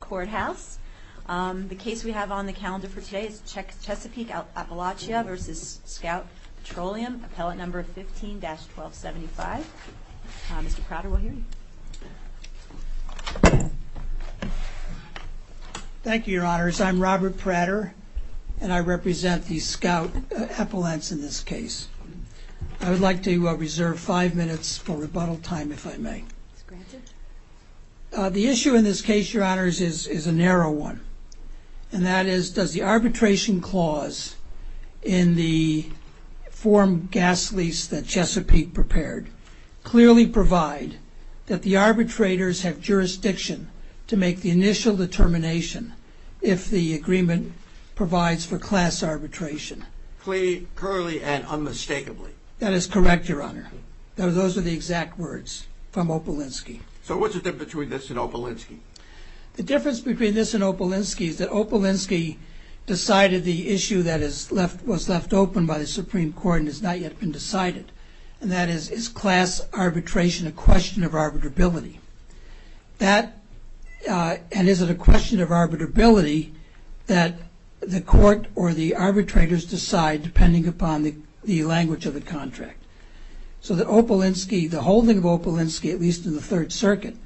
Courthouse. The case we have on the calendar for today is Chesapeake Appalachia v. Scout Petroleum, appellate number 15-1275. Mr. Prater, we'll hear you. Thank you, Your Honors. I'm Robert Prater, and I represent the Scout Appalachians in this case. I would like to reserve five minutes for Mr. Prater's question, which is a narrow one, and that is, does the arbitration clause in the form gas lease that Chesapeake prepared clearly provide that the arbitrators have jurisdiction to make the initial determination if the agreement provides for class arbitration? Clearly and unmistakably. That is the difference between this and Opelinski is that Opelinski decided the issue that was left open by the Supreme Court and has not yet been decided, and that is, is class arbitration a question of arbitrability? And is it a question of arbitrability that the court or the arbitrators decide depending upon the language of the contract? So that Opelinski, the holding of Opelinski, at least in the Third Circuit,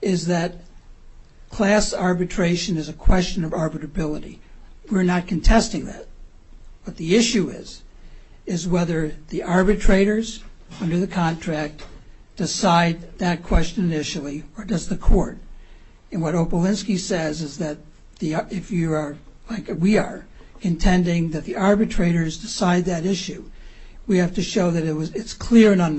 is that class arbitration is a question of arbitrability. We're not contesting that, but the issue is, is whether the arbitrators under the contract decide that question initially, or does the court? And what Opelinski says is that if you are, like we are, intending that the arbitrators decide that issue, we have to show that it's clear and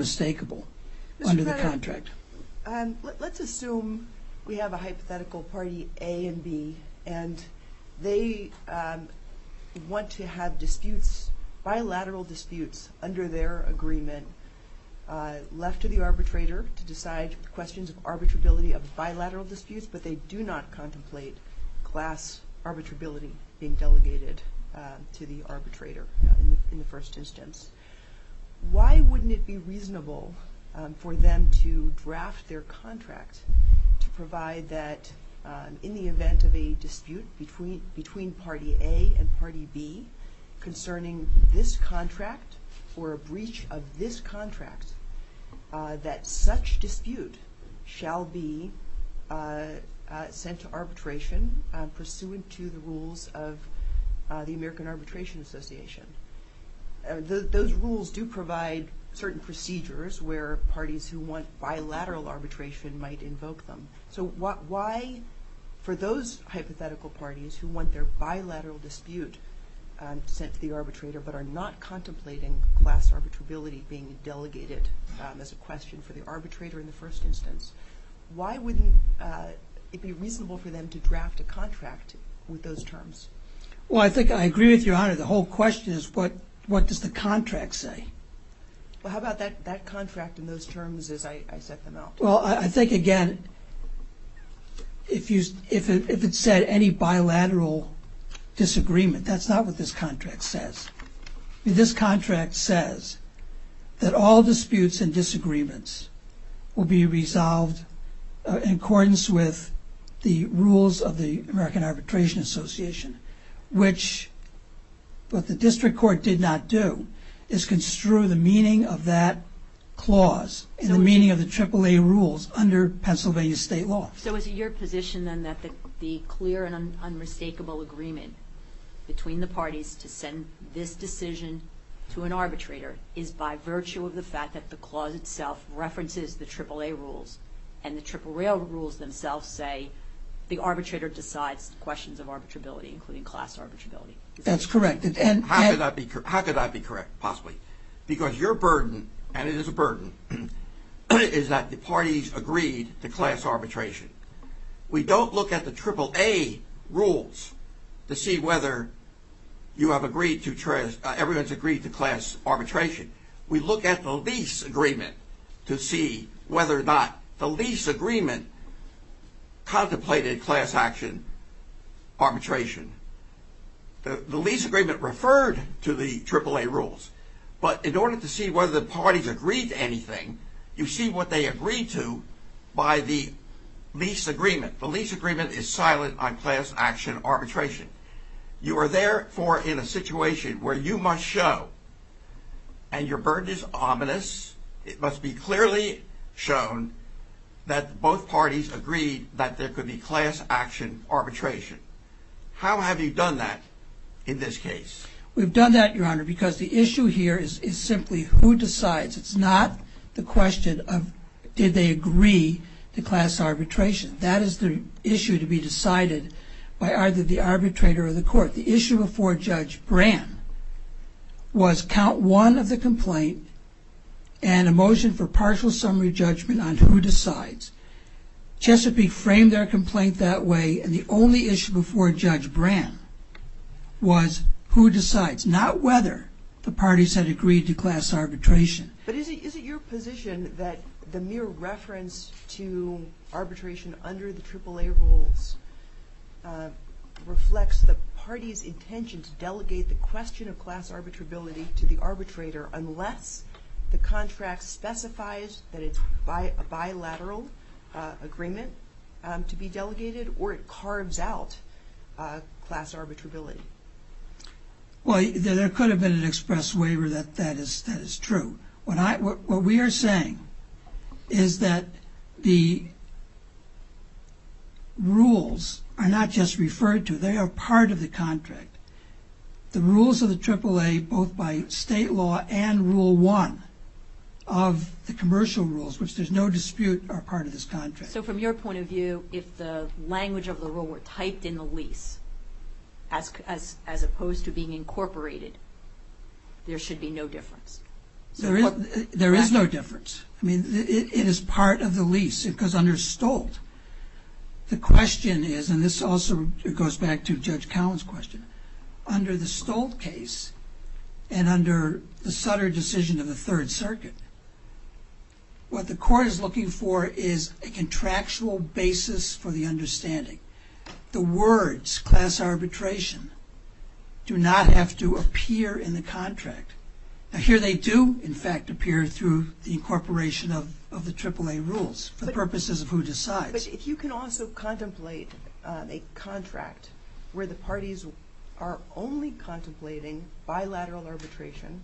let's assume we have a hypothetical party A and B, and they want to have disputes, bilateral disputes, under their agreement left to the arbitrator to decide questions of arbitrability of bilateral disputes, but they do not contemplate class arbitrability being delegated to the arbitrator in the first instance. Why wouldn't it be reasonable for them to draft their contract to provide that in the event of a dispute between party A and party B concerning this contract, or a breach of this contract, that such dispute shall be sent to arbitration pursuant to the rules of the American Arbitration Association? Those rules do provide certain procedures where parties who want bilateral arbitration might invoke them. So why, for those hypothetical parties who want their bilateral dispute sent to the arbitrator, but are not contemplating class arbitrability being delegated as a question for the arbitrator in the first instance, why wouldn't it be reasonable for them to draft a contract with those terms? Well, I think I agree with your honor. The whole question is what does the contract say? Well, how about that contract in those terms as I set them out? Well, I think again, if it said any bilateral disagreement, that's not what this contract says. This contract says that all disputes and arbitration, which the district court did not do, is construe the meaning of that clause and the meaning of the AAA rules under Pennsylvania state law. So is it your position then that the clear and unmistakable agreement between the parties to send this decision to an arbitrator is by virtue of the fact that the That's correct, and how could that be correct possibly? Because your burden, and it is a burden, is that the parties agreed to class arbitration. We don't look at the AAA rules to see whether you have agreed to class arbitration. We look at the lease agreement to see whether or not the lease agreement contemplated class action arbitration. The lease agreement referred to the AAA rules, but in order to see whether the parties agreed to anything, you see what they agreed to by the lease agreement. The lease agreement is silent on class action arbitration. You are therefore in a situation where you must show and your burden is ominous. It must be clearly shown that both parties agreed that there could be class action arbitration. How have you done that in this case? We've done that, Your Honor, because the issue here is simply who decides. It's not the question of did they agree to class arbitration. That is the issue to be decided by either the arbitrator or the court. The issue before Judge Brand was count one of the complaint and a motion for partial summary judgment on who decides. Chesapeake framed their complaint that way, and the only issue before Judge Brand was who decides, not whether the parties had agreed to class arbitration. But is it your position that the mere reference to arbitration under the AAA rules reflects the party's intention to delegate the question of class arbitrability to the arbitrator unless the contract specifies that it's a bilateral agreement to be delegated or it carves out class arbitrability? Well, there could have been an express waiver that is true. What we are saying is that the rules are not just referred to. They are part of the contract. The rules of the AAA, both by state law and Rule 1 of the commercial rules, which there's no dispute, are part of this contract. So from your point of view, if the language of the rule were typed in the lease as opposed to being incorporated, there should be no difference? There is no difference. I mean, it is part of the lease because under Stolt, the question is, and this also goes back to Judge Cowen's question, under the Stolt case and under the Sutter decision of the Third Circuit, what the court is looking for is a contractual basis for the understanding. The words class arbitration do not have to appear in the contract. Here they do, in fact, appear through the incorporation of the AAA rules for the purposes of who decides. But if you can also contemplate a contract where the parties are only contemplating bilateral arbitration,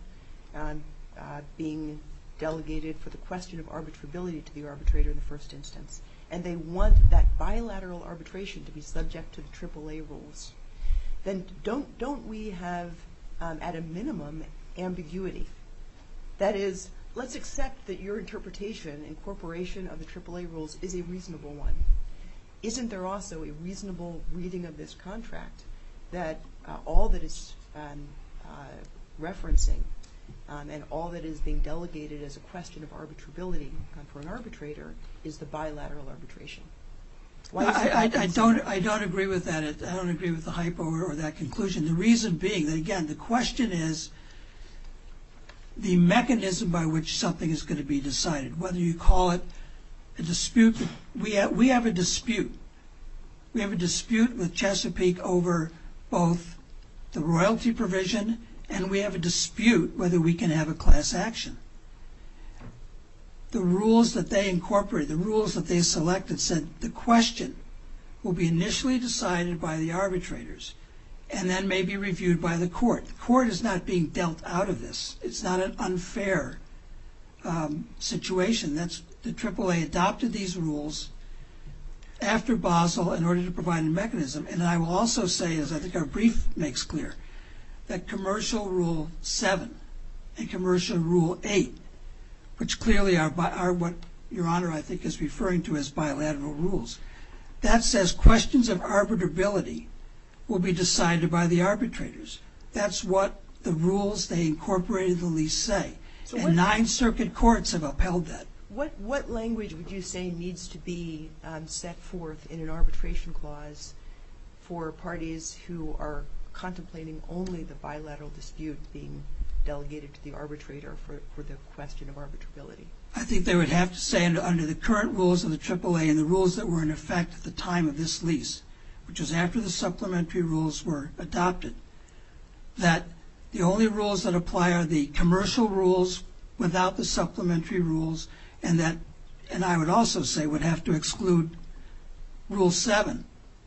being delegated for the question of arbitrability to the arbitrator in the first instance, and they want that bilateral arbitration to be subject to the AAA rules, then don't we have, at a minimum, ambiguity? That is, let's accept that your interpretation, incorporation of the AAA rules, is a reasonable one. Isn't there also a reasonable reading of this contract that all that it's referencing and all that is being delegated as a question of arbitrability for an arbitrator is the bilateral arbitration? I don't agree with that. I don't agree with the hypo or that conclusion. The reason being, again, the question is the mechanism by which something is going to be decided. Whether you call it a dispute, we have a dispute. We have a dispute with Chesapeake over both the royalty provision and we have a dispute whether we can have a class action. The rules that they incorporated, the rules that they selected said the question will be initially decided by the arbitrators and then may be reviewed by the court. The court is not being dealt out of this. It's not an unfair situation. The AAA adopted these rules after Basel in order to provide a mechanism. And I will also say, as I think our brief makes clear, that Commercial Rule 7 and Commercial Rule 8, which clearly are what Your Honor, I think, is referring to as bilateral rules, that says questions of arbitrability will be decided by the arbitrators. That's what the rules they incorporated in the lease say. And nine circuit courts have upheld that. What language would you say needs to be set forth in an arbitration clause for parties who are contemplating only the bilateral dispute being delegated to the arbitrator for the question of arbitrability? I think they would have to say under the current rules of the AAA and the rules that were in effect at the time of this lease, which is after the supplementary rules were adopted, that the only rules that apply are the commercial rules without the supplementary rules and that, and I would also say, would have to exclude Rule 7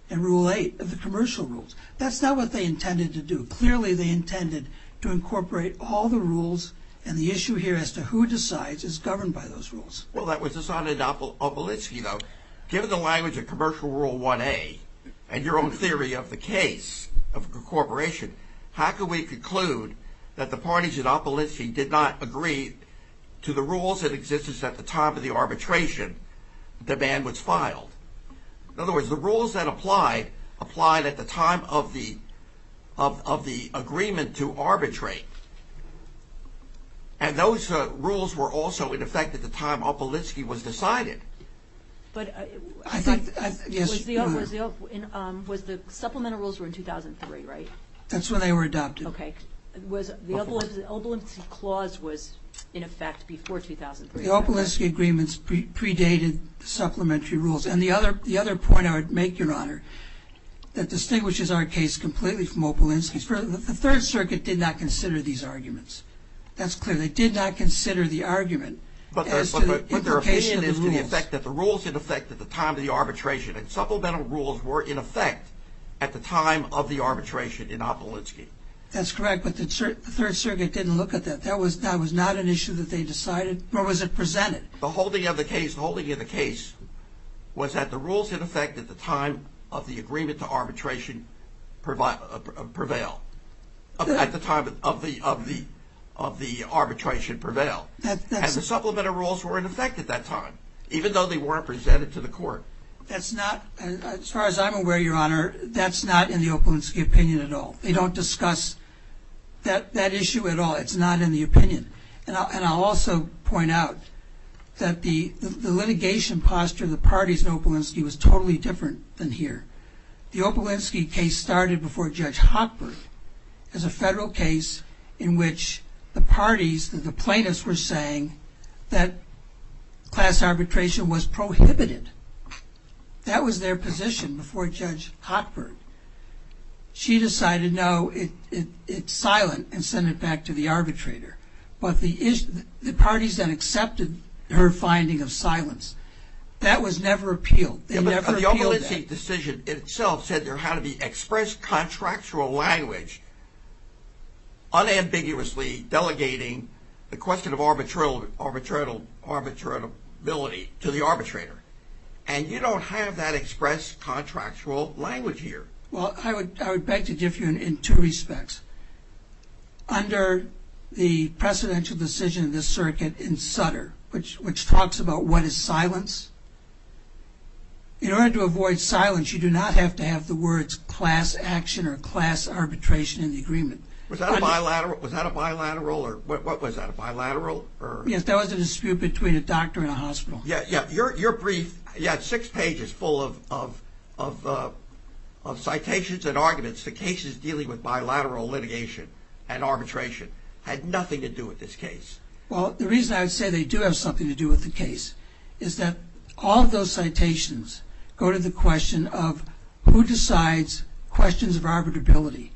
and Rule 8 of the commercial rules. That's not what they intended to do. Clearly, they intended to incorporate all the rules and the issue here as to who decides is governed by those rules. Well, that was decided in Opelitzky, though. Given the language of Commercial Rule 1A and your own theory of the case of incorporation, how can we conclude that the parties in Opelitzky did not agree to the rules that existed at the time of the arbitration demand was filed? In other words, the rules that applied, applied at the time of the agreement to arbitrate. And those rules were also in effect at the time Opelitzky was decided. But I think, was the supplemental rules were in 2003, right? That's when they were adopted. Okay. Was the Opelitzky clause was in effect before 2003? The Opelitzky agreements predated supplementary rules. And the other point I would make, Your Honor, that distinguishes our case completely from Opelitzky's, the Third Circuit did not consider these arguments. That's clear. They did not consider the argument as to the implication of the rules. But their opinion is to the effect that the rules in effect at the time of the arbitration and supplemental rules were in effect at the time of the arbitration in Opelitzky. That's correct. But the Third Circuit didn't look at that. That was not an issue that they decided. Or was it presented? The holding of the case, the holding of the case was that the rules in effect at the time of the agreement to arbitration prevail, at the time of the arbitration prevail. And the supplemental rules were in effect at that time, even though they weren't presented to the court. That's not, as far as I'm aware, Your Honor, that's not in the Opelitzky opinion at all. They don't discuss that issue at all. It's not in the opinion. And I'll also point out that the litigation posture of the parties in Opelitzky was totally different than here. The Opelitzky case started before Judge Hochberg as a federal case in which the parties, the plaintiffs were saying that class arbitration was prohibited. That was their position before Judge Hochberg. She decided, no, it's silent and sent it back to the arbitrator. But the parties then accepted her finding of silence. That was never appealed. The Opelitzky decision itself said there had to be express contractual language unambiguously delegating the question of arbitratability to the arbitrator. And you don't have that express contractual language here. Well, I would beg to differ in two respects. Under the precedential decision of this circuit in Sutter, which talks about what is silence. In order to avoid silence, you do not have to have the words class action or class arbitration in the agreement. Was that a bilateral or what was that, a bilateral? Yes, that was a dispute between a doctor and a hospital. Your brief, you had six pages full of citations and arguments. The cases dealing with bilateral litigation and arbitration had nothing to do with this case. Well, the reason I would say they do have something to do with the case is that all of those citations go to the question of who decides questions of arbitrability.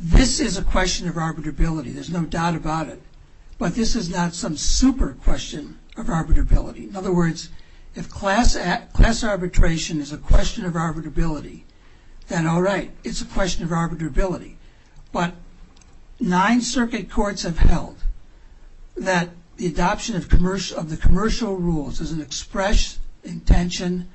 This is a question of arbitrability. There's no doubt about it. But this is not some super question of arbitrability. In other words, if class arbitration is a question of arbitrability, then all right, it's a question of arbitrability. But nine circuit courts have held that the adoption of the commercial rules is an express intention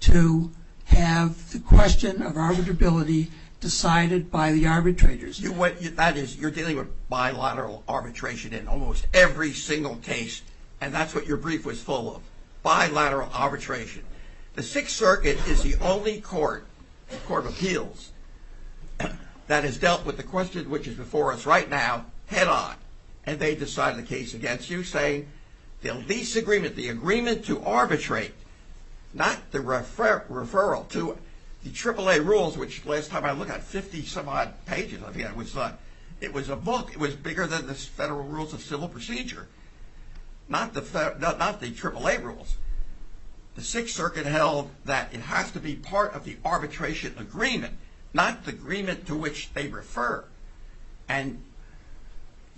to have the question of arbitrability decided by the arbitrators. That is, you're dealing with bilateral arbitration in almost every single case, and that's what your brief was full of, bilateral arbitration. The Sixth Circuit is the only court, the Court of Appeals, that has dealt with the question which is before us right now head-on. And they decide the case against you, saying the lease agreement, the agreement to arbitrate, not the referral to the AAA rules, which last time I looked at 50-some-odd pages, it was a book, it was bigger than the Federal Rules of Civil Procedure, not the AAA rules. The Sixth Circuit held that it has to be part of the arbitration agreement, not the agreement to which they refer. And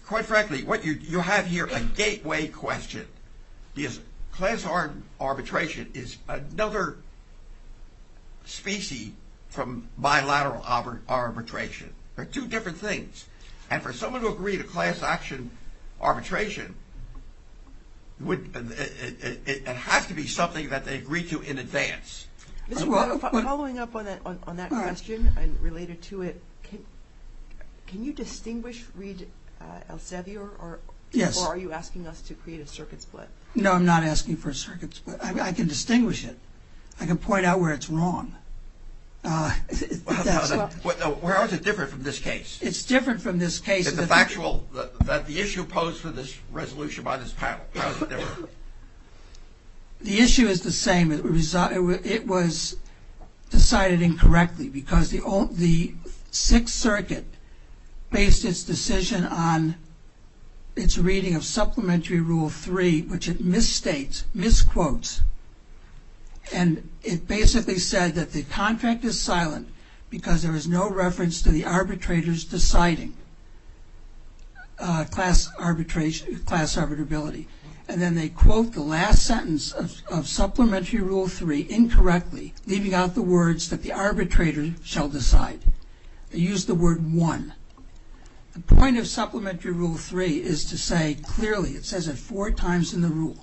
quite frankly, what you have here, a gateway question, is class arbitration is another species from bilateral arbitration. They're two different things. And for someone to agree to class action arbitration, it has to be something that they agree to in advance. Following up on that question and related to it, can you distinguish Reed Elsevier, or are you asking us to create a circuit split? No, I'm not asking for a circuit split. I can distinguish it. I can point out where it's wrong. How is it different from this case? It's different from this case. The issue posed for this resolution by this panel, how is it different? The issue is the same. It was decided incorrectly because the Sixth Circuit based its decision on its reading of Supplementary Rule 3, which it misquotes. And it basically said that the contract is silent because there was no reference to the arbitrators deciding class arbitrability. And then they quote the last sentence of Supplementary Rule 3 incorrectly, leaving out the words that the arbitrator shall decide. They used the word one. The point of Supplementary Rule 3 is to say clearly, it says it four times in the rule,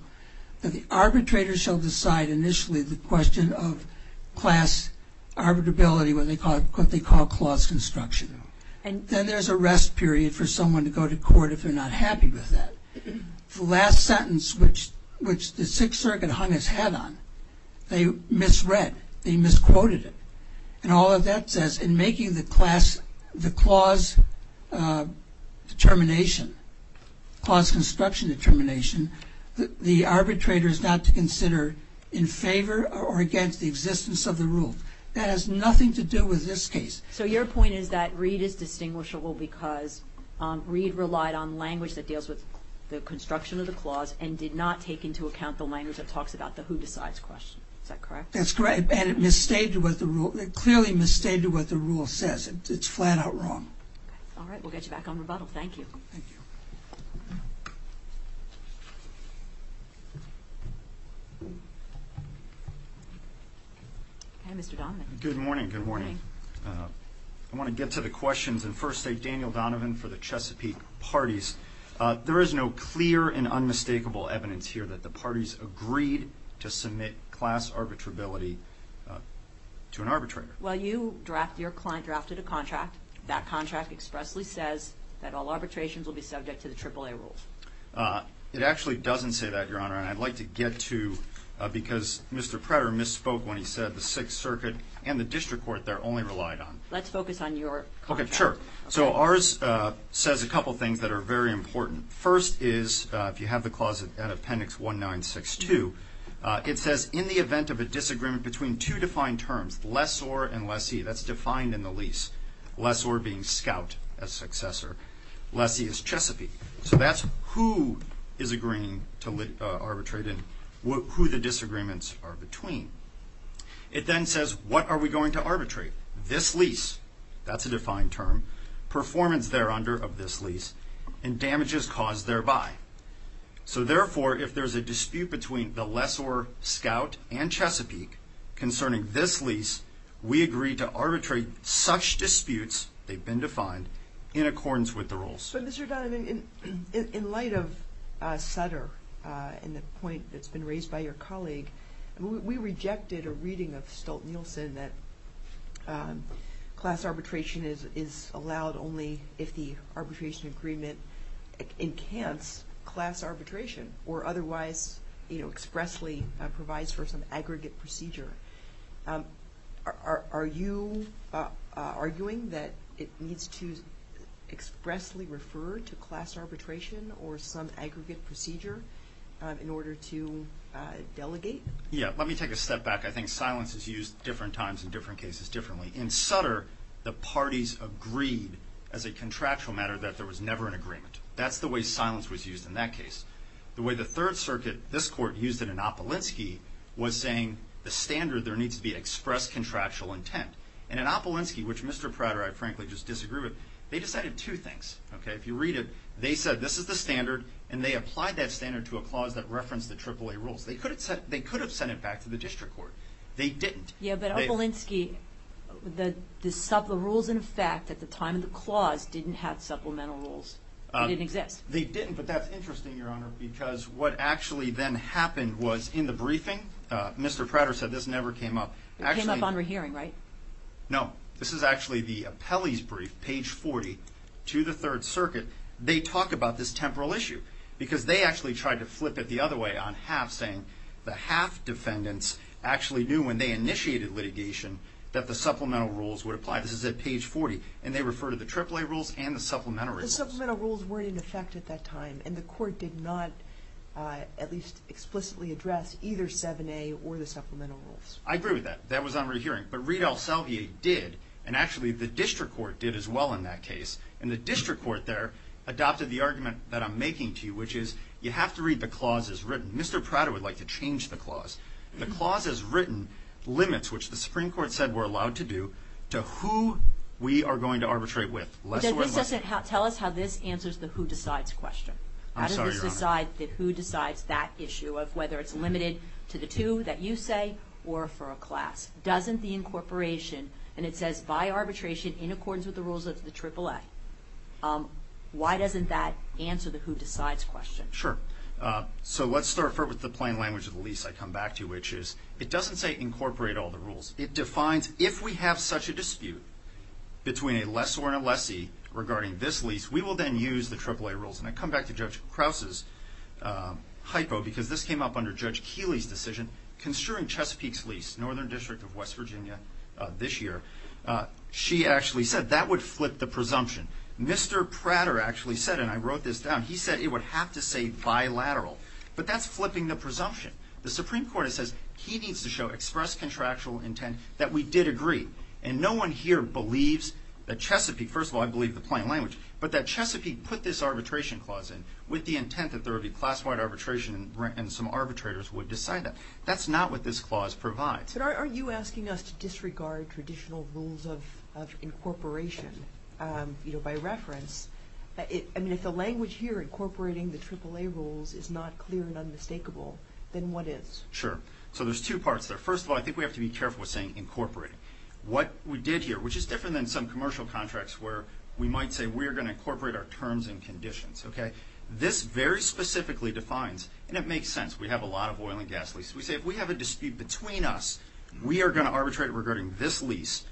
that the arbitrator shall decide initially the question of class arbitrability, what they call clause construction. Then there's a rest period for someone to go to court if they're not happy with that. The last sentence, which the Sixth Circuit hung its head on, they misread. They misquoted it. And all of that says in making the clause determination, clause construction determination, the arbitrator is not to consider in favor or against the existence of the rule. That has nothing to do with this case. So your point is that Reed is distinguishable because Reed relied on language that deals with the construction of the clause and did not take into account the language that talks about the who decides question. Is that correct? That's correct. And it clearly misstated what the rule says. It's flat out wrong. All right. We'll get you back on rebuttal. Thank you. Thank you. Mr. Donovan. Good morning. Good morning. I want to get to the questions. And first, thank Daniel Donovan for the Chesapeake parties. There is no clear and unmistakable evidence here that the parties agreed to submit class arbitrability to an arbitrator. Well, you drafted a contract. That contract expressly says that all arbitrations will be subject to the AAA rules. It actually doesn't say that, Your Honor. And I'd like to get to, because Mr. Pretter misspoke when he said the Sixth Circuit and the district court there only relied on. Let's focus on your contract. Okay. Sure. So ours says a couple things that are very important. First is, if you have the clause at appendix 1962, it says, in the event of a disagreement between two defined terms, lessor and lessee, that's defined in the lease, lessor being scout as successor, lessee is Chesapeake. So that's who is agreeing to arbitrate and who the disagreements are between. It then says, what are we going to arbitrate? This lease, that's a defined term, performance there under of this lease, and damages caused thereby. So therefore, if there's a dispute between the lessor scout and Chesapeake concerning this lease, we agree to arbitrate such disputes, they've been defined, in accordance with the rules. So Mr. Donovan, in light of Sutter and the point that's been raised by your colleague, we rejected a reading of Stolt-Nielsen that class arbitration is allowed only if the arbitration agreement encants class arbitration, or otherwise expressly provides for some aggregate procedure. Are you arguing that it needs to expressly refer to class arbitration or some aggregate procedure in order to delegate? Yeah, let me take a step back. I think silence is used different times in different cases differently. In Sutter, the parties agreed as a contractual matter that there was never an agreement. That's the way silence was used in that case. The way the Third Circuit, this court, used it in Opelinski was saying the standard there needs to be express contractual intent. And in Opelinski, which Mr. Prater and I frankly just disagree with, they decided two things. If you read it, they said this is the standard, and they applied that standard to a clause that referenced the AAA rules. They could have sent it back to the district court. They didn't. Yeah, but Opelinski, the rules in effect at the time of the clause didn't have supplemental rules. They didn't exist. They didn't, but that's interesting, Your Honor, because what actually then happened was in the briefing, Mr. Prater said this never came up. It came up on rehearing, right? No. This is actually the appellee's brief, page 40, to the Third Circuit. They talk about this temporal issue because they actually tried to flip it the other way on half, saying the half defendants actually knew when they initiated litigation that the supplemental rules would apply. This is at page 40, and they refer to the AAA rules and the supplementary rules. But the supplemental rules weren't in effect at that time, and the court did not at least explicitly address either 7A or the supplemental rules. I agree with that. That was on rehearing. But Reid-El-Selvier did, and actually the district court did as well in that case, and the district court there adopted the argument that I'm making to you, which is you have to read the clauses written. Mr. Prater would like to change the clause. The clauses written limits, which the Supreme Court said we're allowed to do, to who we are going to arbitrate with. Tell us how this answers the who decides question. I'm sorry, Your Honor. How does this decide that who decides that issue of whether it's limited to the two that you say or for a class? Doesn't the incorporation, and it says by arbitration in accordance with the rules of the AAA, why doesn't that answer the who decides question? Sure. So let's start with the plain language of the lease I come back to, which is it doesn't say incorporate all the rules. It defines if we have such a dispute between a lessor and a lessee regarding this lease, we will then use the AAA rules. And I come back to Judge Krause's hypo because this came up under Judge Keeley's decision. Considering Chesapeake's lease, northern district of West Virginia this year, she actually said that would flip the presumption. Mr. Prater actually said, and I wrote this down, he said it would have to say bilateral. But that's flipping the presumption. The Supreme Court says he needs to show express contractual intent that we did agree. And no one here believes that Chesapeake, first of all, I believe the plain language, but that Chesapeake put this arbitration clause in with the intent that there would be class-wide arbitration and some arbitrators would decide that. That's not what this clause provides. But aren't you asking us to disregard traditional rules of incorporation? By reference, if the language here incorporating the AAA rules is not clear and unmistakable, then what is? Sure. So there's two parts there. First of all, I think we have to be careful with saying incorporating. What we did here, which is different than some commercial contracts where we might say we're going to incorporate our terms and conditions. This very specifically defines, and it makes sense, we have a lot of oil and gas leases. We say if we have a dispute between us, we are going to arbitrate regarding this lease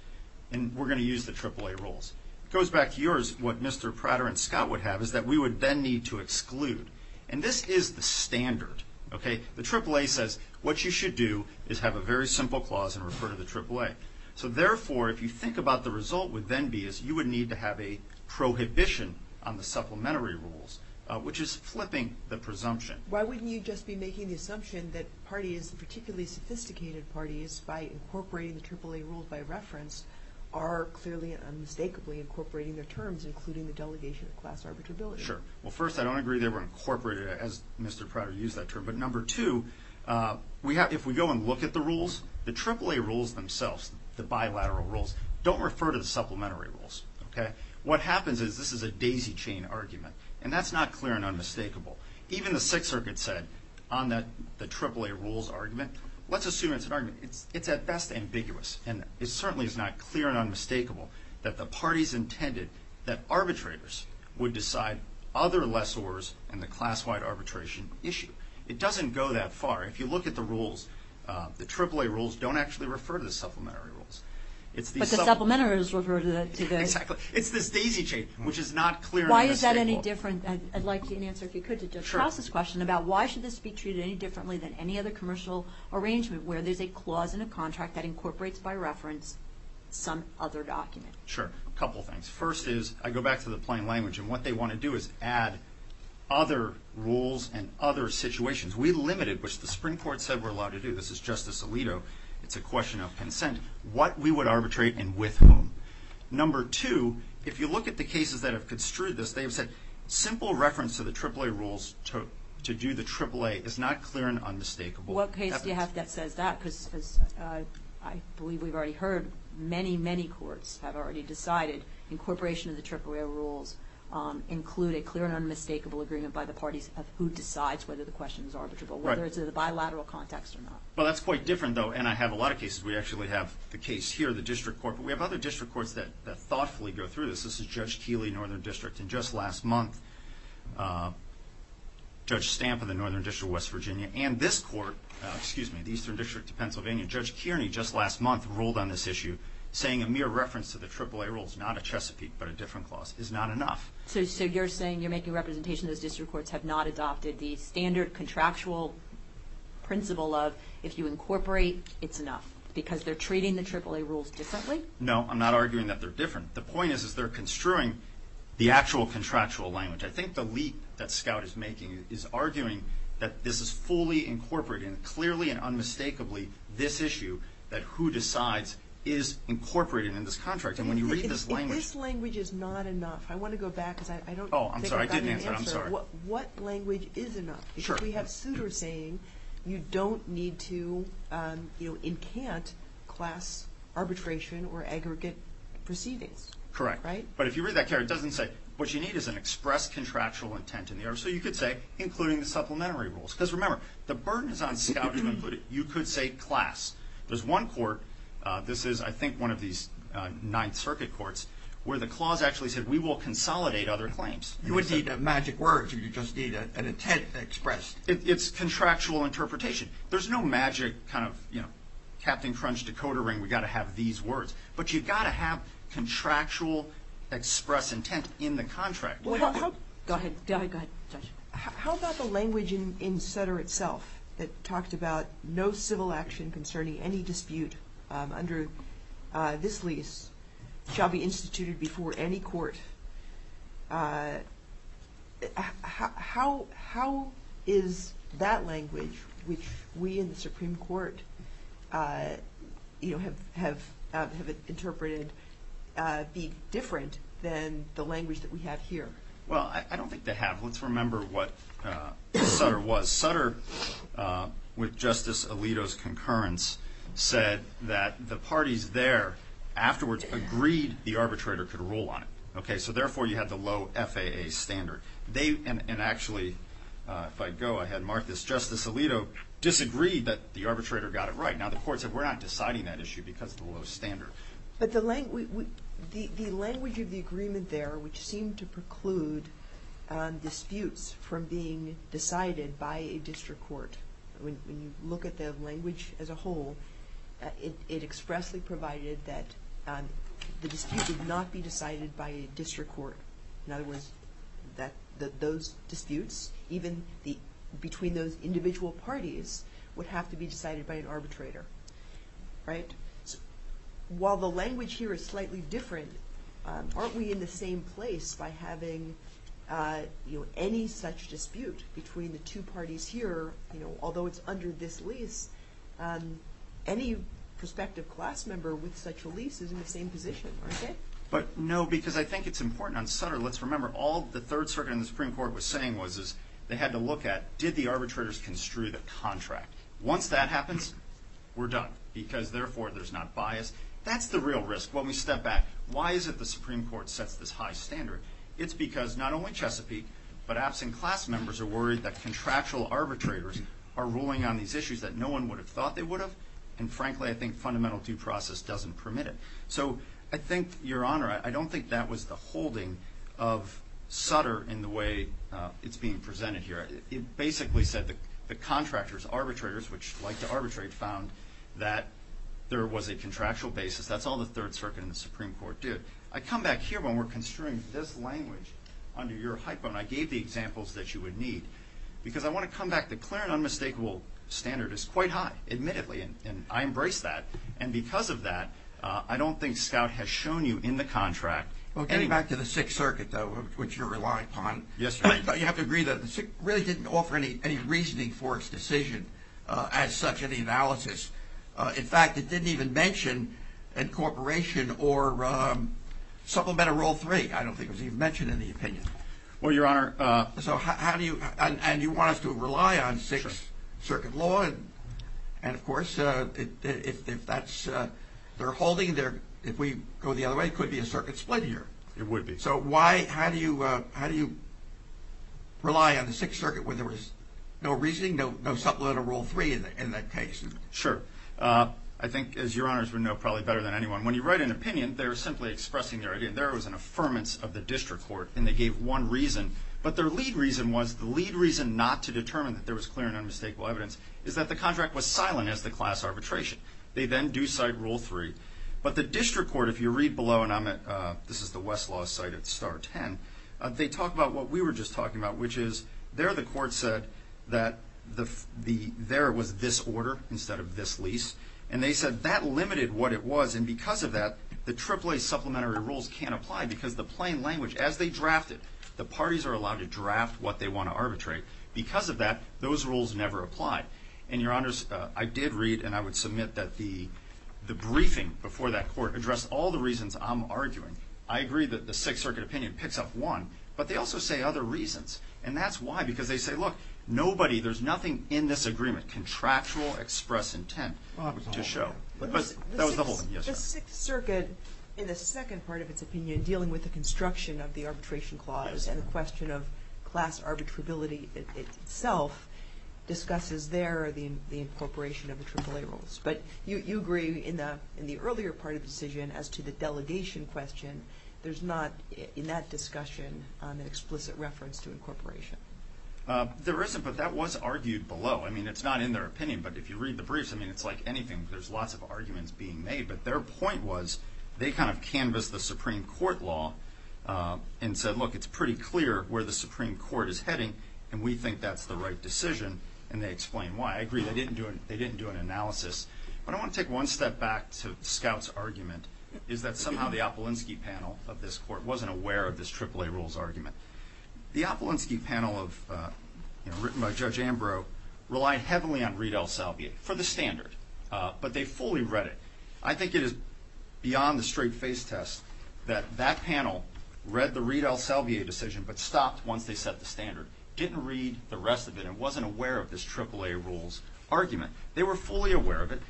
and we're going to use the AAA rules. It goes back to yours, what Mr. Prater and Scott would have is that we would then need to exclude. And this is the standard. The AAA says what you should do is have a very simple clause and refer to the AAA. So, therefore, if you think about the result would then be is you would need to have a prohibition on the supplementary rules, which is flipping the presumption. Why wouldn't you just be making the assumption that parties, particularly sophisticated parties, by incorporating the AAA rules by reference, are clearly and unmistakably incorporating their terms, including the delegation of class arbitrability? Sure. Well, first, I don't agree they were incorporated, as Mr. Prater used that term. But number two, if we go and look at the rules, the AAA rules themselves, the bilateral rules, don't refer to the supplementary rules. What happens is this is a daisy chain argument, and that's not clear and unmistakable. Even the Sixth Circuit said on the AAA rules argument, let's assume it's an argument. It's at best ambiguous, and it certainly is not clear and unmistakable that the parties intended that arbitrators would decide other lessors in the class-wide arbitration issue. It doesn't go that far. If you look at the rules, the AAA rules don't actually refer to the supplementary rules. But the supplementary rules refer to the – Exactly. I'd like an answer, if you could, to Judge House's question about why should this be treated any differently than any other commercial arrangement, where there's a clause in a contract that incorporates by reference some other document? Sure. A couple things. First is, I go back to the plain language, and what they want to do is add other rules and other situations. We limited, which the Supreme Court said we're allowed to do – this is Justice Alito, it's a question of consent – what we would arbitrate and with whom. Number two, if you look at the cases that have construed this, they've said simple reference to the AAA rules to do the AAA is not clear and unmistakable. What case do you have that says that? Because I believe we've already heard many, many courts have already decided incorporation of the AAA rules include a clear and unmistakable agreement by the parties of who decides whether the question is arbitrable, whether it's in a bilateral context or not. Well, that's quite different, though, and I have a lot of cases. We actually have the case here, the district court, but we have other district courts that thoughtfully go through this. This is Judge Keeley, Northern District, and just last month, Judge Stamp of the Northern District of West Virginia and this court – excuse me, the Eastern District of Pennsylvania – Judge Kearney, just last month, ruled on this issue, saying a mere reference to the AAA rules, not a Chesapeake but a different clause, is not enough. So you're saying you're making a representation those district courts have not adopted the standard contractual principle of if you incorporate, it's enough. Because they're treating the AAA rules differently? No, I'm not arguing that they're different. The point is they're construing the actual contractual language. I think the leap that Scout is making is arguing that this is fully incorporated, and clearly and unmistakably this issue that who decides is incorporated in this contract. And when you read this language – If this language is not enough, I want to go back because I don't think I got your answer. Oh, I'm sorry. I didn't answer it. I'm sorry. What language is enough? If we have Souter saying you don't need to incant class arbitration or aggregate proceedings, right? Correct. But if you read that care, it doesn't say what you need is an express contractual intent in the order. So you could say including the supplementary rules. Because remember, the burden is on Scout to include it. You could say class. There's one court – this is, I think, one of these Ninth Circuit courts – where the clause actually said we will consolidate other claims. You wouldn't need magic words. You'd just need an intent expressed. It's contractual interpretation. There's no magic kind of Captain Crunch decoder ring. We've got to have these words. But you've got to have contractual express intent in the contract. Go ahead. Go ahead. Judge. How about the language in Souter itself that talked about no civil action concerning any dispute under this lease shall be instituted before any court? How is that language, which we in the Supreme Court, you know, have interpreted, be different than the language that we have here? Well, I don't think they have. Let's remember what Souter was. Souter, with Justice Alito's concurrence, said that the parties there afterwards agreed the arbitrator could rule on it. Okay. So therefore, you had the low FAA standard. And actually, if I go ahead, Martha, Justice Alito disagreed that the arbitrator got it right. Now, the court said we're not deciding that issue because of the low standard. But the language of the agreement there, which seemed to preclude disputes from being decided by a district court, when you look at the language as a whole, it expressly provided that the dispute did not be decided by a district court. In other words, that those disputes, even between those individual parties, would have to be decided by an arbitrator. Right. While the language here is slightly different, aren't we in the same place by having any such dispute between the two parties here? You know, although it's under this lease, any prospective class member with such a lease is in the same position. But no, because I think it's important on Souter. Let's remember all the Third Circuit and the Supreme Court was saying was, is they had to look at, did the arbitrators construe the contract? Once that happens, we're done because therefore there's not bias. That's the real risk. When we step back, why is it the Supreme Court sets this high standard? It's because not only Chesapeake, but absent class members are worried that contractual arbitrators are ruling on these issues that no one would have thought they would have. And frankly, I think fundamental due process doesn't permit it. So I think, Your Honor, I don't think that was the holding of Souter in the way it's being presented here. It basically said that the contractors, arbitrators, which like to arbitrate, found that there was a contractual basis. That's all the Third Circuit and the Supreme Court did. I come back here when we're construing this language under your hyphen. I gave the examples that you would need because I want to come back. The clear and unmistakable standard is quite high, admittedly, and I embrace that. And because of that, I don't think Scout has shown you in the contract. Well, getting back to the Sixth Circuit, though, which you're relying upon. Yes, Your Honor. You have to agree that the Sixth really didn't offer any reasoning for its decision as such in the analysis. In fact, it didn't even mention incorporation or supplemental rule three. I don't think it was even mentioned in the opinion. Well, Your Honor. And you want us to rely on Sixth Circuit law. And, of course, if we go the other way, it could be a circuit split here. It would be. So how do you rely on the Sixth Circuit when there was no reasoning, no supplemental rule three in that case? Sure. I think, as Your Honors would know probably better than anyone, when you write an opinion, they're simply expressing their idea. There was an affirmance of the district court, and they gave one reason. But their lead reason was, the lead reason not to determine that there was clear and unmistakable evidence, is that the contract was silent as to class arbitration. They then do cite rule three. But the district court, if you read below, and this is the Westlaw site at Star 10, they talk about what we were just talking about, which is there the court said that there was this order instead of this lease. And they said that limited what it was. And because of that, the AAA supplementary rules can't apply because the plain language, as they drafted, the parties are allowed to draft what they want to arbitrate. Because of that, those rules never apply. And, Your Honors, I did read, and I would submit, that the briefing before that court addressed all the reasons I'm arguing. I agree that the Sixth Circuit opinion picks up one, but they also say other reasons. And that's why, because they say, look, nobody, there's nothing in this agreement, contractual express intent to show. That was the whole thing. The Sixth Circuit, in the second part of its opinion, dealing with the construction of the arbitration clause and the question of class arbitrability itself, discusses there the incorporation of the AAA rules. But you agree in the earlier part of the decision as to the delegation question, there's not, in that discussion, an explicit reference to incorporation. There isn't, but that was argued below. I mean, it's not in their opinion, but if you read the briefs, I mean, it's like anything. There's lots of arguments being made. But their point was they kind of canvassed the Supreme Court law and said, look, it's pretty clear where the Supreme Court is heading, and we think that's the right decision. And they explain why. I agree they didn't do an analysis. But I want to take one step back to the Scouts' argument, is that somehow the Opelinski panel of this court wasn't aware of this AAA rules argument. The Opelinski panel, written by Judge Ambrose, relied heavily on Reid-El-Salvier for the standard, but they fully read it. I think it is beyond the straight-faced test that that panel read the Reid-El-Salvier decision but stopped once they set the standard, didn't read the rest of it, and wasn't aware of this AAA rules argument. They were fully aware of it.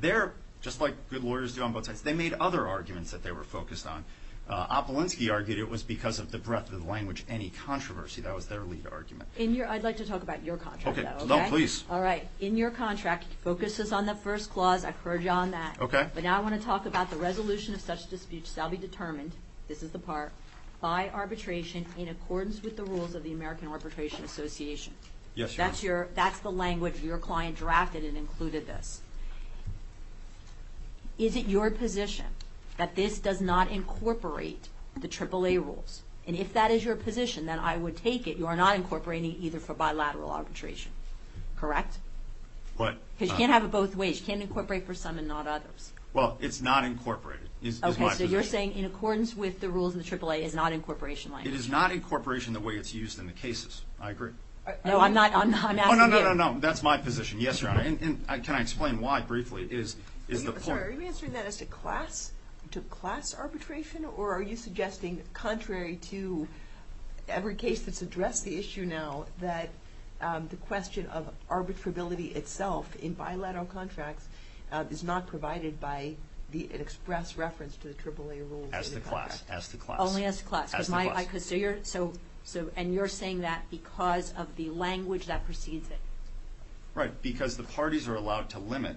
They're, just like good lawyers do on both sides, they made other arguments that they were focused on. Opelinski argued it was because of the breadth of the language, any controversy. That was their lead argument. I'd like to talk about your contract, though. Okay, please. All right. In your contract, it focuses on the first clause. I've heard you on that. Okay. But now I want to talk about the resolution of such a dispute shall be determined, this is the part, by arbitration in accordance with the rules of the American Arbitration Association. Yes, Your Honor. That's the language your client drafted and included this. Is it your position that this does not incorporate the AAA rules? And if that is your position, then I would take it you are not incorporating either for bilateral arbitration. Correct? What? Because you can't have it both ways. You can't incorporate for some and not others. Well, it's not incorporated is my position. Okay, so you're saying in accordance with the rules in the AAA is not incorporation language. It is not incorporation the way it's used in the cases. I agree. No, I'm asking you. Oh, no, no, no, no. That's my position. Yes, Your Honor. And can I explain why briefly? Is the point? I'm sorry. Are you answering that as to class arbitration or are you suggesting contrary to every case that's addressed the issue now that the question of arbitrability itself in bilateral contracts is not provided by an express reference to the AAA rules? As to class, as to class. Only as to class. As to class. And you're saying that because of the language that precedes it. Right. Because the parties are allowed to limit.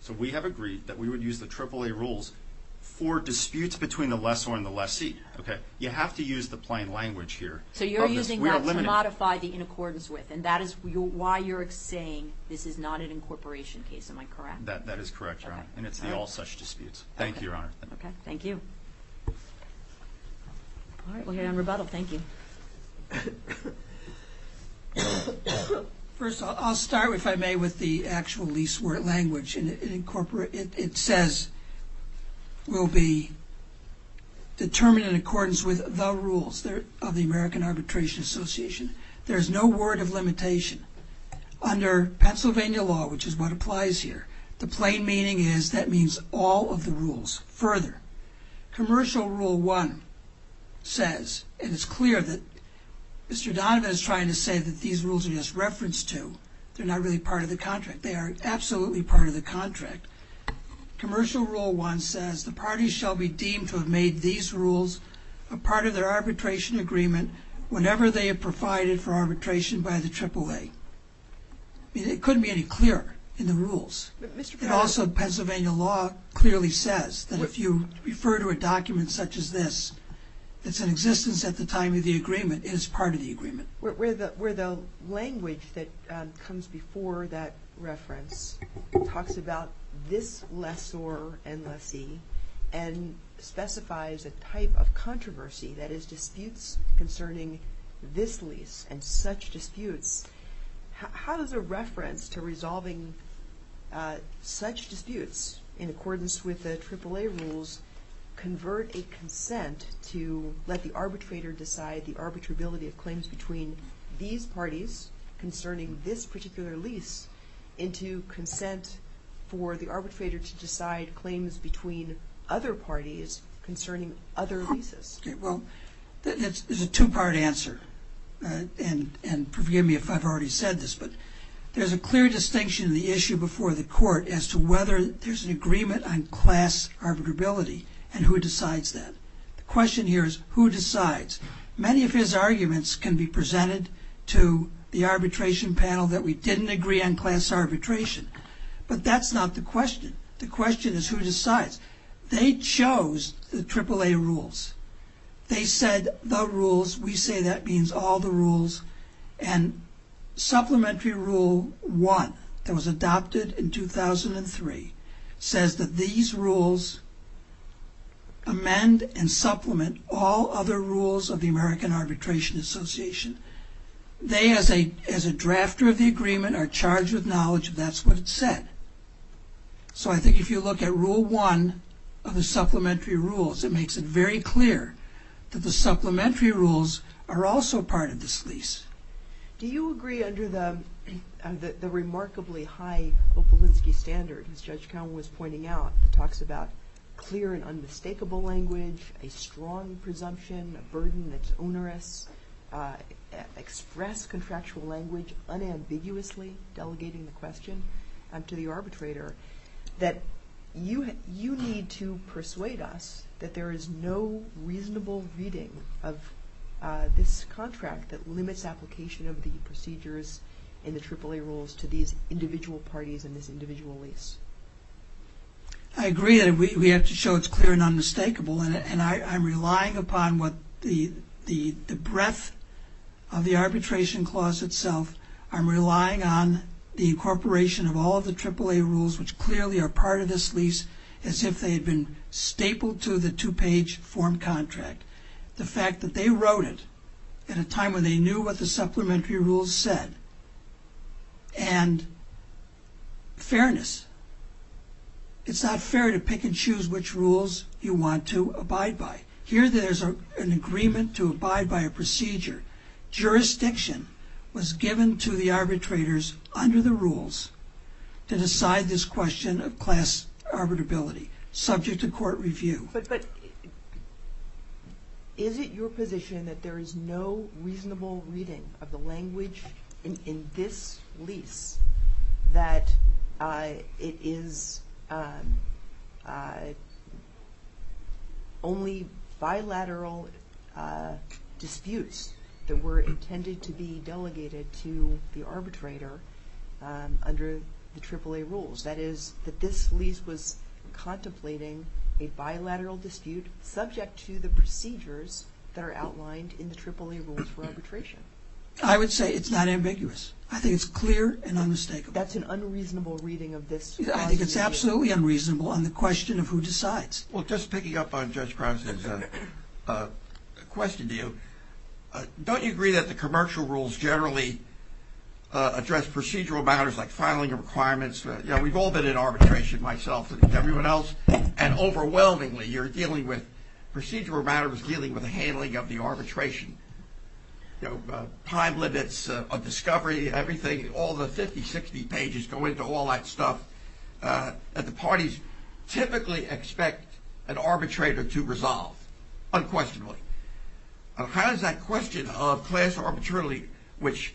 So we have agreed that we would use the AAA rules for disputes between the lessor and the lessee. Okay. You have to use the plain language here. So you're using that to modify the in accordance with. And that is why you're saying this is not an incorporation case. Am I correct? That is correct, Your Honor. And it's the all such disputes. Thank you, Your Honor. Okay. Thank you. All right. We'll hear you on rebuttal. Thank you. First, I'll start, if I may, with the actual least word language. It says will be determined in accordance with the rules of the American Arbitration Association. There is no word of limitation. Under Pennsylvania law, which is what applies here, the plain meaning is that means all of the rules. Commercial Rule 1 says, and it's clear that Mr. Donovan is trying to say that these rules are just referenced to. They're not really part of the contract. They are absolutely part of the contract. Commercial Rule 1 says the parties shall be deemed to have made these rules a part of their arbitration agreement whenever they have provided for arbitration by the AAA. It couldn't be any clearer in the rules. Also, Pennsylvania law clearly says that if you refer to a document such as this, it's in existence at the time of the agreement. It is part of the agreement. Where the language that comes before that reference talks about this lessor and lessee and specifies a type of controversy, that is disputes concerning this lease and such disputes, how does a reference to resolving such disputes in accordance with the AAA rules convert a consent to let the arbitrator decide the arbitrability of claims between these parties concerning this particular lease into consent for the arbitrator to decide claims between other parties concerning other leases? Well, it's a two-part answer, and forgive me if I've already said this, but there's a clear distinction in the issue before the Court as to whether there's an agreement on class arbitrability and who decides that. The question here is who decides. Many of his arguments can be presented to the arbitration panel that we didn't agree on class arbitration, but that's not the question. The question is who decides. They chose the AAA rules. They said the rules, we say that means all the rules, and Supplementary Rule 1, that was adopted in 2003, says that these rules amend and supplement all other rules of the American Arbitration Association. They, as a drafter of the agreement, are charged with knowledge if that's what it said. So I think if you look at Rule 1 of the Supplementary Rules, it makes it very clear that the Supplementary Rules are also part of this lease. Do you agree under the remarkably high Opalinsky standard, as Judge Cowen was pointing out, that talks about clear and unmistakable language, a strong presumption, a burden that's onerous, express contractual language unambiguously delegating the question to the arbitrator, that you need to persuade us that there is no reasonable reading of this contract that limits application of the procedures in the AAA rules to these individual parties in this individual lease? I agree that we have to show it's clear and unmistakable, and I'm relying upon the breadth of the arbitration clause itself. I'm relying on the incorporation of all of the AAA rules, which clearly are part of this lease, as if they had been stapled to the two-page form contract. The fact that they wrote it at a time when they knew what the Supplementary Rules said, and fairness. It's not fair to pick and choose which rules you want to abide by. Here there's an agreement to abide by a procedure. Jurisdiction was given to the arbitrators under the rules to decide this question of class arbitrability, subject to court review. But is it your position that there is no reasonable reading of the language in this lease that it is only bilateral disputes that were intended to be delegated to the arbitrator under the AAA rules? That is, that this lease was contemplating a bilateral dispute subject to the procedures that are outlined in the AAA rules for arbitration? I would say it's not ambiguous. I think it's clear and unmistakable. That's an unreasonable reading of this? I think it's absolutely unreasonable on the question of who decides. Well, just picking up on Judge Prowse's question to you, don't you agree that the commercial rules generally address procedural matters like filing requirements? You know, we've all been in arbitration, myself and everyone else, and overwhelmingly you're dealing with procedural matters dealing with the handling of the arbitration. You know, time limits of discovery, everything, all the 50-60 pages go into all that stuff that the parties typically expect an arbitrator to resolve unquestionably. How does that question of class arbitrarily, which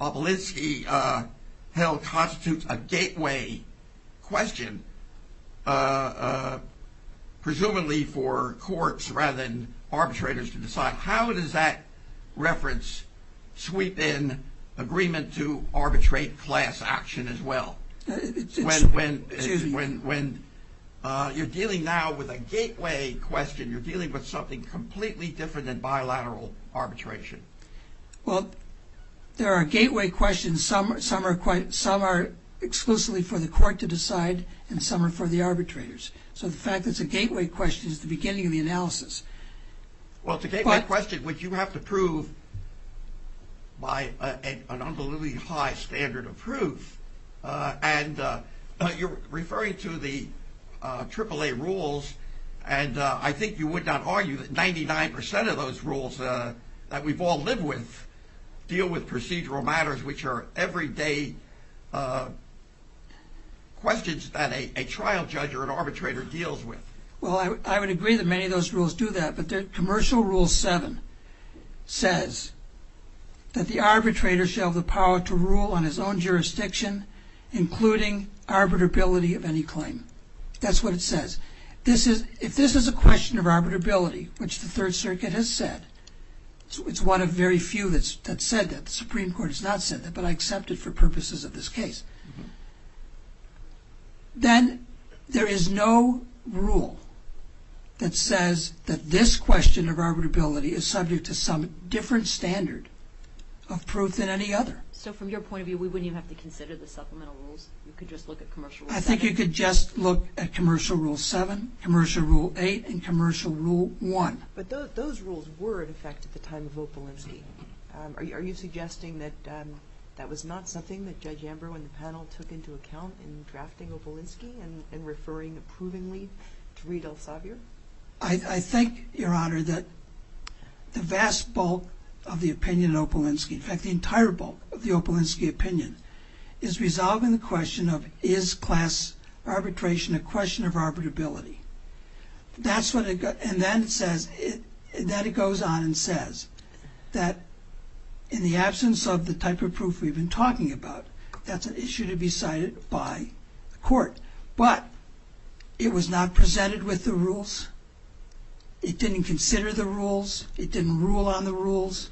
Opolinsky held constitutes a gateway question, presumably for courts rather than arbitrators to decide, how does that reference sweep in agreement to arbitrate class action as well? When you're dealing now with a gateway question, you're dealing with something completely different than bilateral arbitration. Well, there are gateway questions. Some are exclusively for the court to decide and some are for the arbitrators. So the fact that it's a gateway question is the beginning of the analysis. Well, it's a gateway question which you have to prove by an unbelievably high standard of proof, and you're referring to the AAA rules, and I think you would not argue that 99% of those rules that we've all lived with deal with procedural matters, which are everyday questions that a trial judge or an arbitrator deals with. Well, I would agree that many of those rules do that, but Commercial Rule 7 says that the arbitrator shall have the power to rule on his own jurisdiction, including arbitrability of any claim. That's what it says. If this is a question of arbitrability, which the Third Circuit has said, it's one of very few that said that. The Supreme Court has not said that, but I accept it for purposes of this case. Then there is no rule that says that this question of arbitrability is subject to some different standard of proof than any other. So from your point of view, we wouldn't even have to consider the supplemental rules? You could just look at Commercial Rule 7? I think you could just look at Commercial Rule 7, Commercial Rule 8, and Commercial Rule 1. But those rules were in effect at the time of Opalinsky. Are you suggesting that that was not something that Judge Ambrose and the panel took into account in drafting Opalinsky and referring approvingly to Reed Elsevier? I think, Your Honor, that the vast bulk of the opinion in Opalinsky, in fact the entire bulk of the Opalinsky opinion, is resolving the question of is class arbitration a question of arbitrability. And then it goes on and says that in the absence of the type of proof we've been talking about, that's an issue to be cited by the court. But it was not presented with the rules. It didn't consider the rules. It didn't rule on the rules.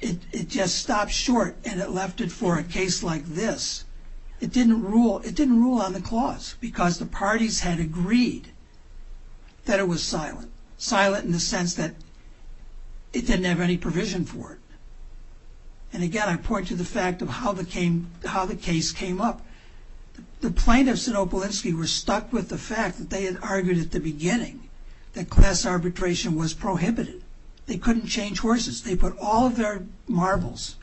It just stopped short and it left it for a case like this. It didn't rule on the clause because the parties had agreed that it was silent. Silent in the sense that it didn't have any provision for it. And again, I point to the fact of how the case came up. The plaintiffs in Opalinsky were stuck with the fact that they had argued at the beginning that class arbitration was prohibited. They couldn't change horses. They put all of their marbles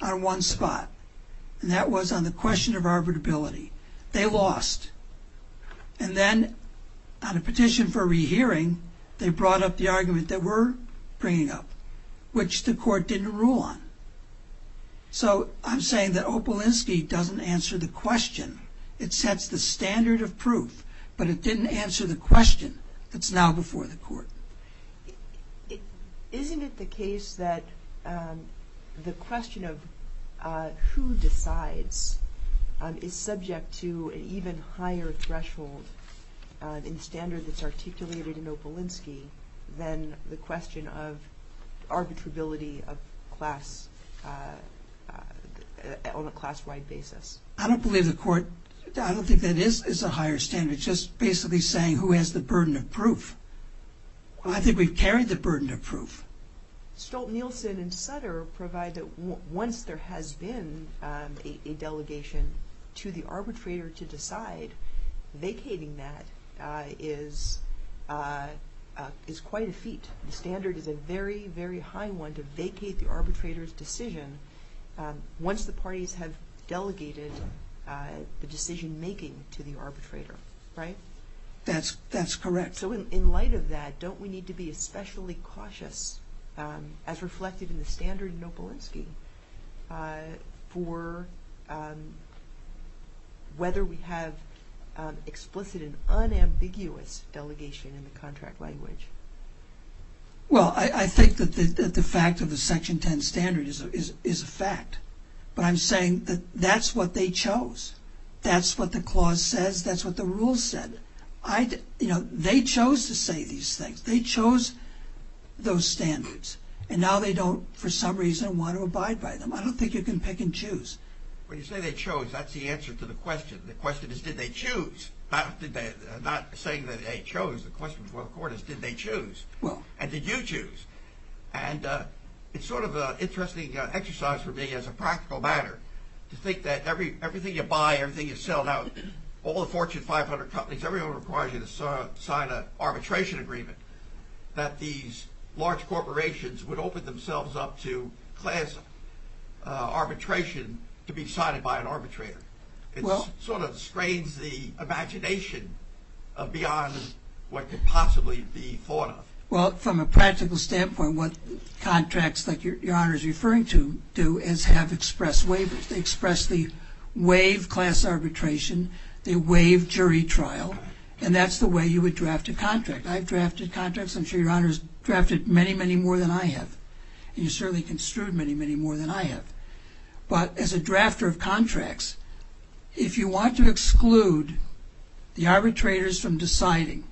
on one spot. And that was on the question of arbitrability. They lost. And then on a petition for rehearing, they brought up the argument that we're bringing up, which the court didn't rule on. So I'm saying that Opalinsky doesn't answer the question. It sets the standard of proof, but it didn't answer the question that's now before the court. Isn't it the case that the question of who decides is subject to an even higher threshold in the standard that's articulated in Opalinsky than the question of arbitrability on a class-wide basis? I don't believe the court – I don't think that is a higher standard. It's just basically saying who has the burden of proof. I think we've carried the burden of proof. Stolt-Nielsen and Sutter provide that once there has been a delegation to the arbitrator to decide, vacating that is quite a feat. The standard is a very, very high one to vacate the arbitrator's decision once the parties have delegated the decision-making to the arbitrator, right? That's correct. So in light of that, don't we need to be especially cautious, as reflected in the standard in Opalinsky, for whether we have explicit and unambiguous delegation in the contract language? Well, I think that the fact of the Section 10 standard is a fact. But I'm saying that that's what they chose. That's what the clause says. That's what the rules said. They chose to say these things. They chose those standards. And now they don't, for some reason, want to abide by them. I don't think you can pick and choose. When you say they chose, that's the answer to the question. The question is, did they choose? I'm not saying that they chose. The question before the court is, did they choose? And did you choose? And it's sort of an interesting exercise for me as a practical matter to think that everything you buy, everything you sell, now all the Fortune 500 companies, everyone requires you to sign an arbitration agreement that these large corporations would open themselves up to arbitration to be signed by an arbitrator. It sort of strains the imagination beyond what could possibly be thought of. Well, from a practical standpoint, what contracts like Your Honor is referring to do is have express waivers. They express the waive class arbitration. They waive jury trial. And that's the way you would draft a contract. I've drafted contracts. I'm sure Your Honor has drafted many, many more than I have. And you certainly construed many, many more than I have. But as a drafter of contracts, if you want to exclude the arbitrators from deciding,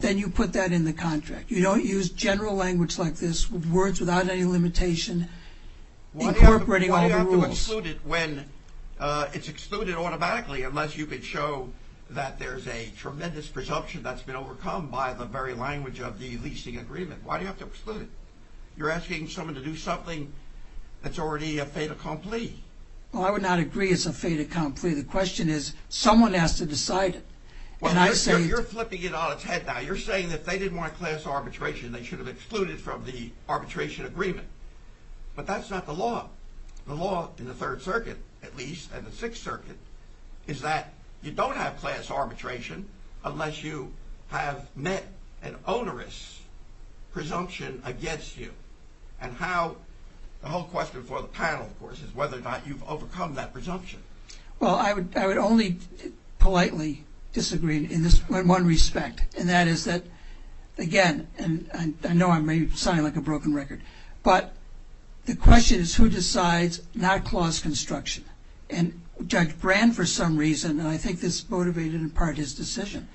then you put that in the contract. You don't use general language like this, words without any limitation, incorporating all the rules. Why do you have to exclude it when it's excluded automatically unless you can show that there's a tremendous presumption that's been overcome by the very language of the leasing agreement? Why do you have to exclude it? You're asking someone to do something that's already a fait accompli. Well, I would not agree it's a fait accompli. The question is someone has to decide it. Well, you're flipping it on its head now. You're saying that if they didn't want class arbitration, they should have excluded from the arbitration agreement. But that's not the law. The law in the Third Circuit, at least, and the Sixth Circuit, is that you don't have class arbitration unless you have met an onerous presumption against you. And how the whole question for the panel, of course, is whether or not you've overcome that presumption. Well, I would only politely disagree in one respect, and that is that, again, and I know I may sound like a broken record, but the question is who decides not clause construction? And Judge Brand, for some reason, and I think this motivated in part his decision,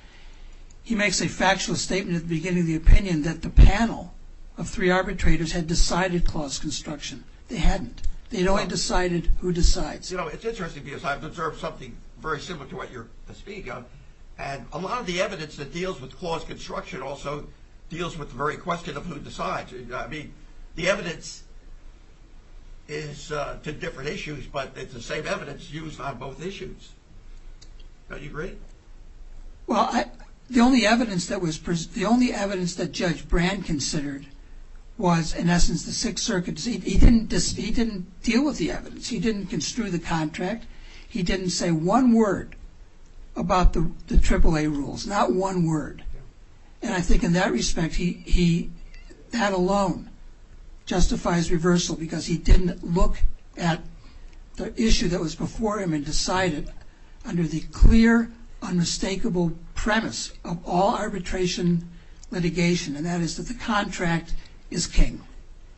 he makes a factual statement at the beginning of the opinion that the panel of three arbitrators had decided clause construction. They hadn't. They'd only decided who decides. You know, it's interesting because I've observed something very similar to what you're speaking of, and a lot of the evidence that deals with clause construction also deals with the very question of who decides. I mean, the evidence is to different issues, but it's the same evidence used on both issues. Don't you agree? Well, the only evidence that Judge Brand considered was, in essence, the Sixth Circuit. He didn't deal with the evidence. He didn't construe the contract. He didn't say one word about the AAA rules, not one word. And I think in that respect, that alone justifies reversal because he didn't look at the issue that was before him and decide it under the clear, unmistakable premise of all arbitration litigation, and that is that the contract is king.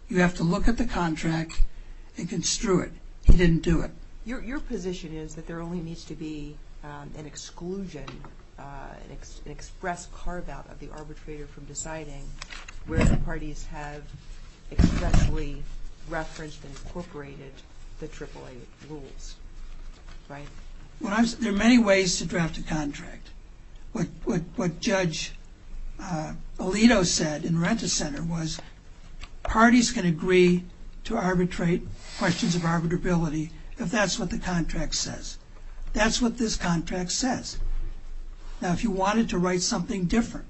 You have to look at the contract and construe it. He didn't do it. Your position is that there only needs to be an exclusion, an express carve-out of the arbitrator from deciding where the parties have expressly referenced and incorporated the AAA rules, right? There are many ways to draft a contract. What Judge Alito said in Rent-A-Center was parties can agree to arbitrate questions of arbitrability if that's what the contract says. That's what this contract says. Now, if you wanted to write something different,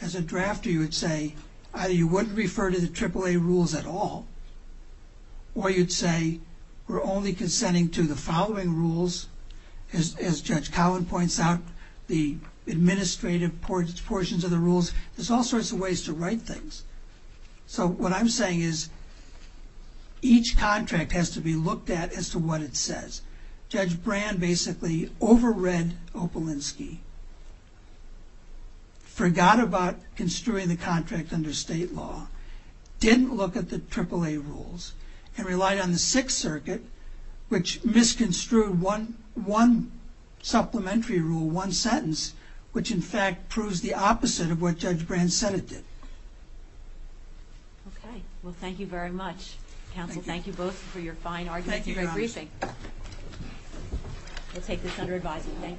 as a drafter, you would say either you wouldn't refer to the AAA rules at all or you'd say we're only consenting to the following rules, as Judge Collin points out, the administrative portions of the rules. There's all sorts of ways to write things. So what I'm saying is each contract has to be looked at as to what it says. Judge Brand basically over-read Opolinsky forgot about construing the contract under state law, didn't look at the AAA rules, and relied on the Sixth Circuit, which misconstrued one supplementary rule, one sentence, which in fact proves the opposite of what Judge Brand said it did. Okay. Well, thank you very much. Counsel, thank you both for your fine arguments and your briefing. Thank you, Your Honor. We'll take this under advisement.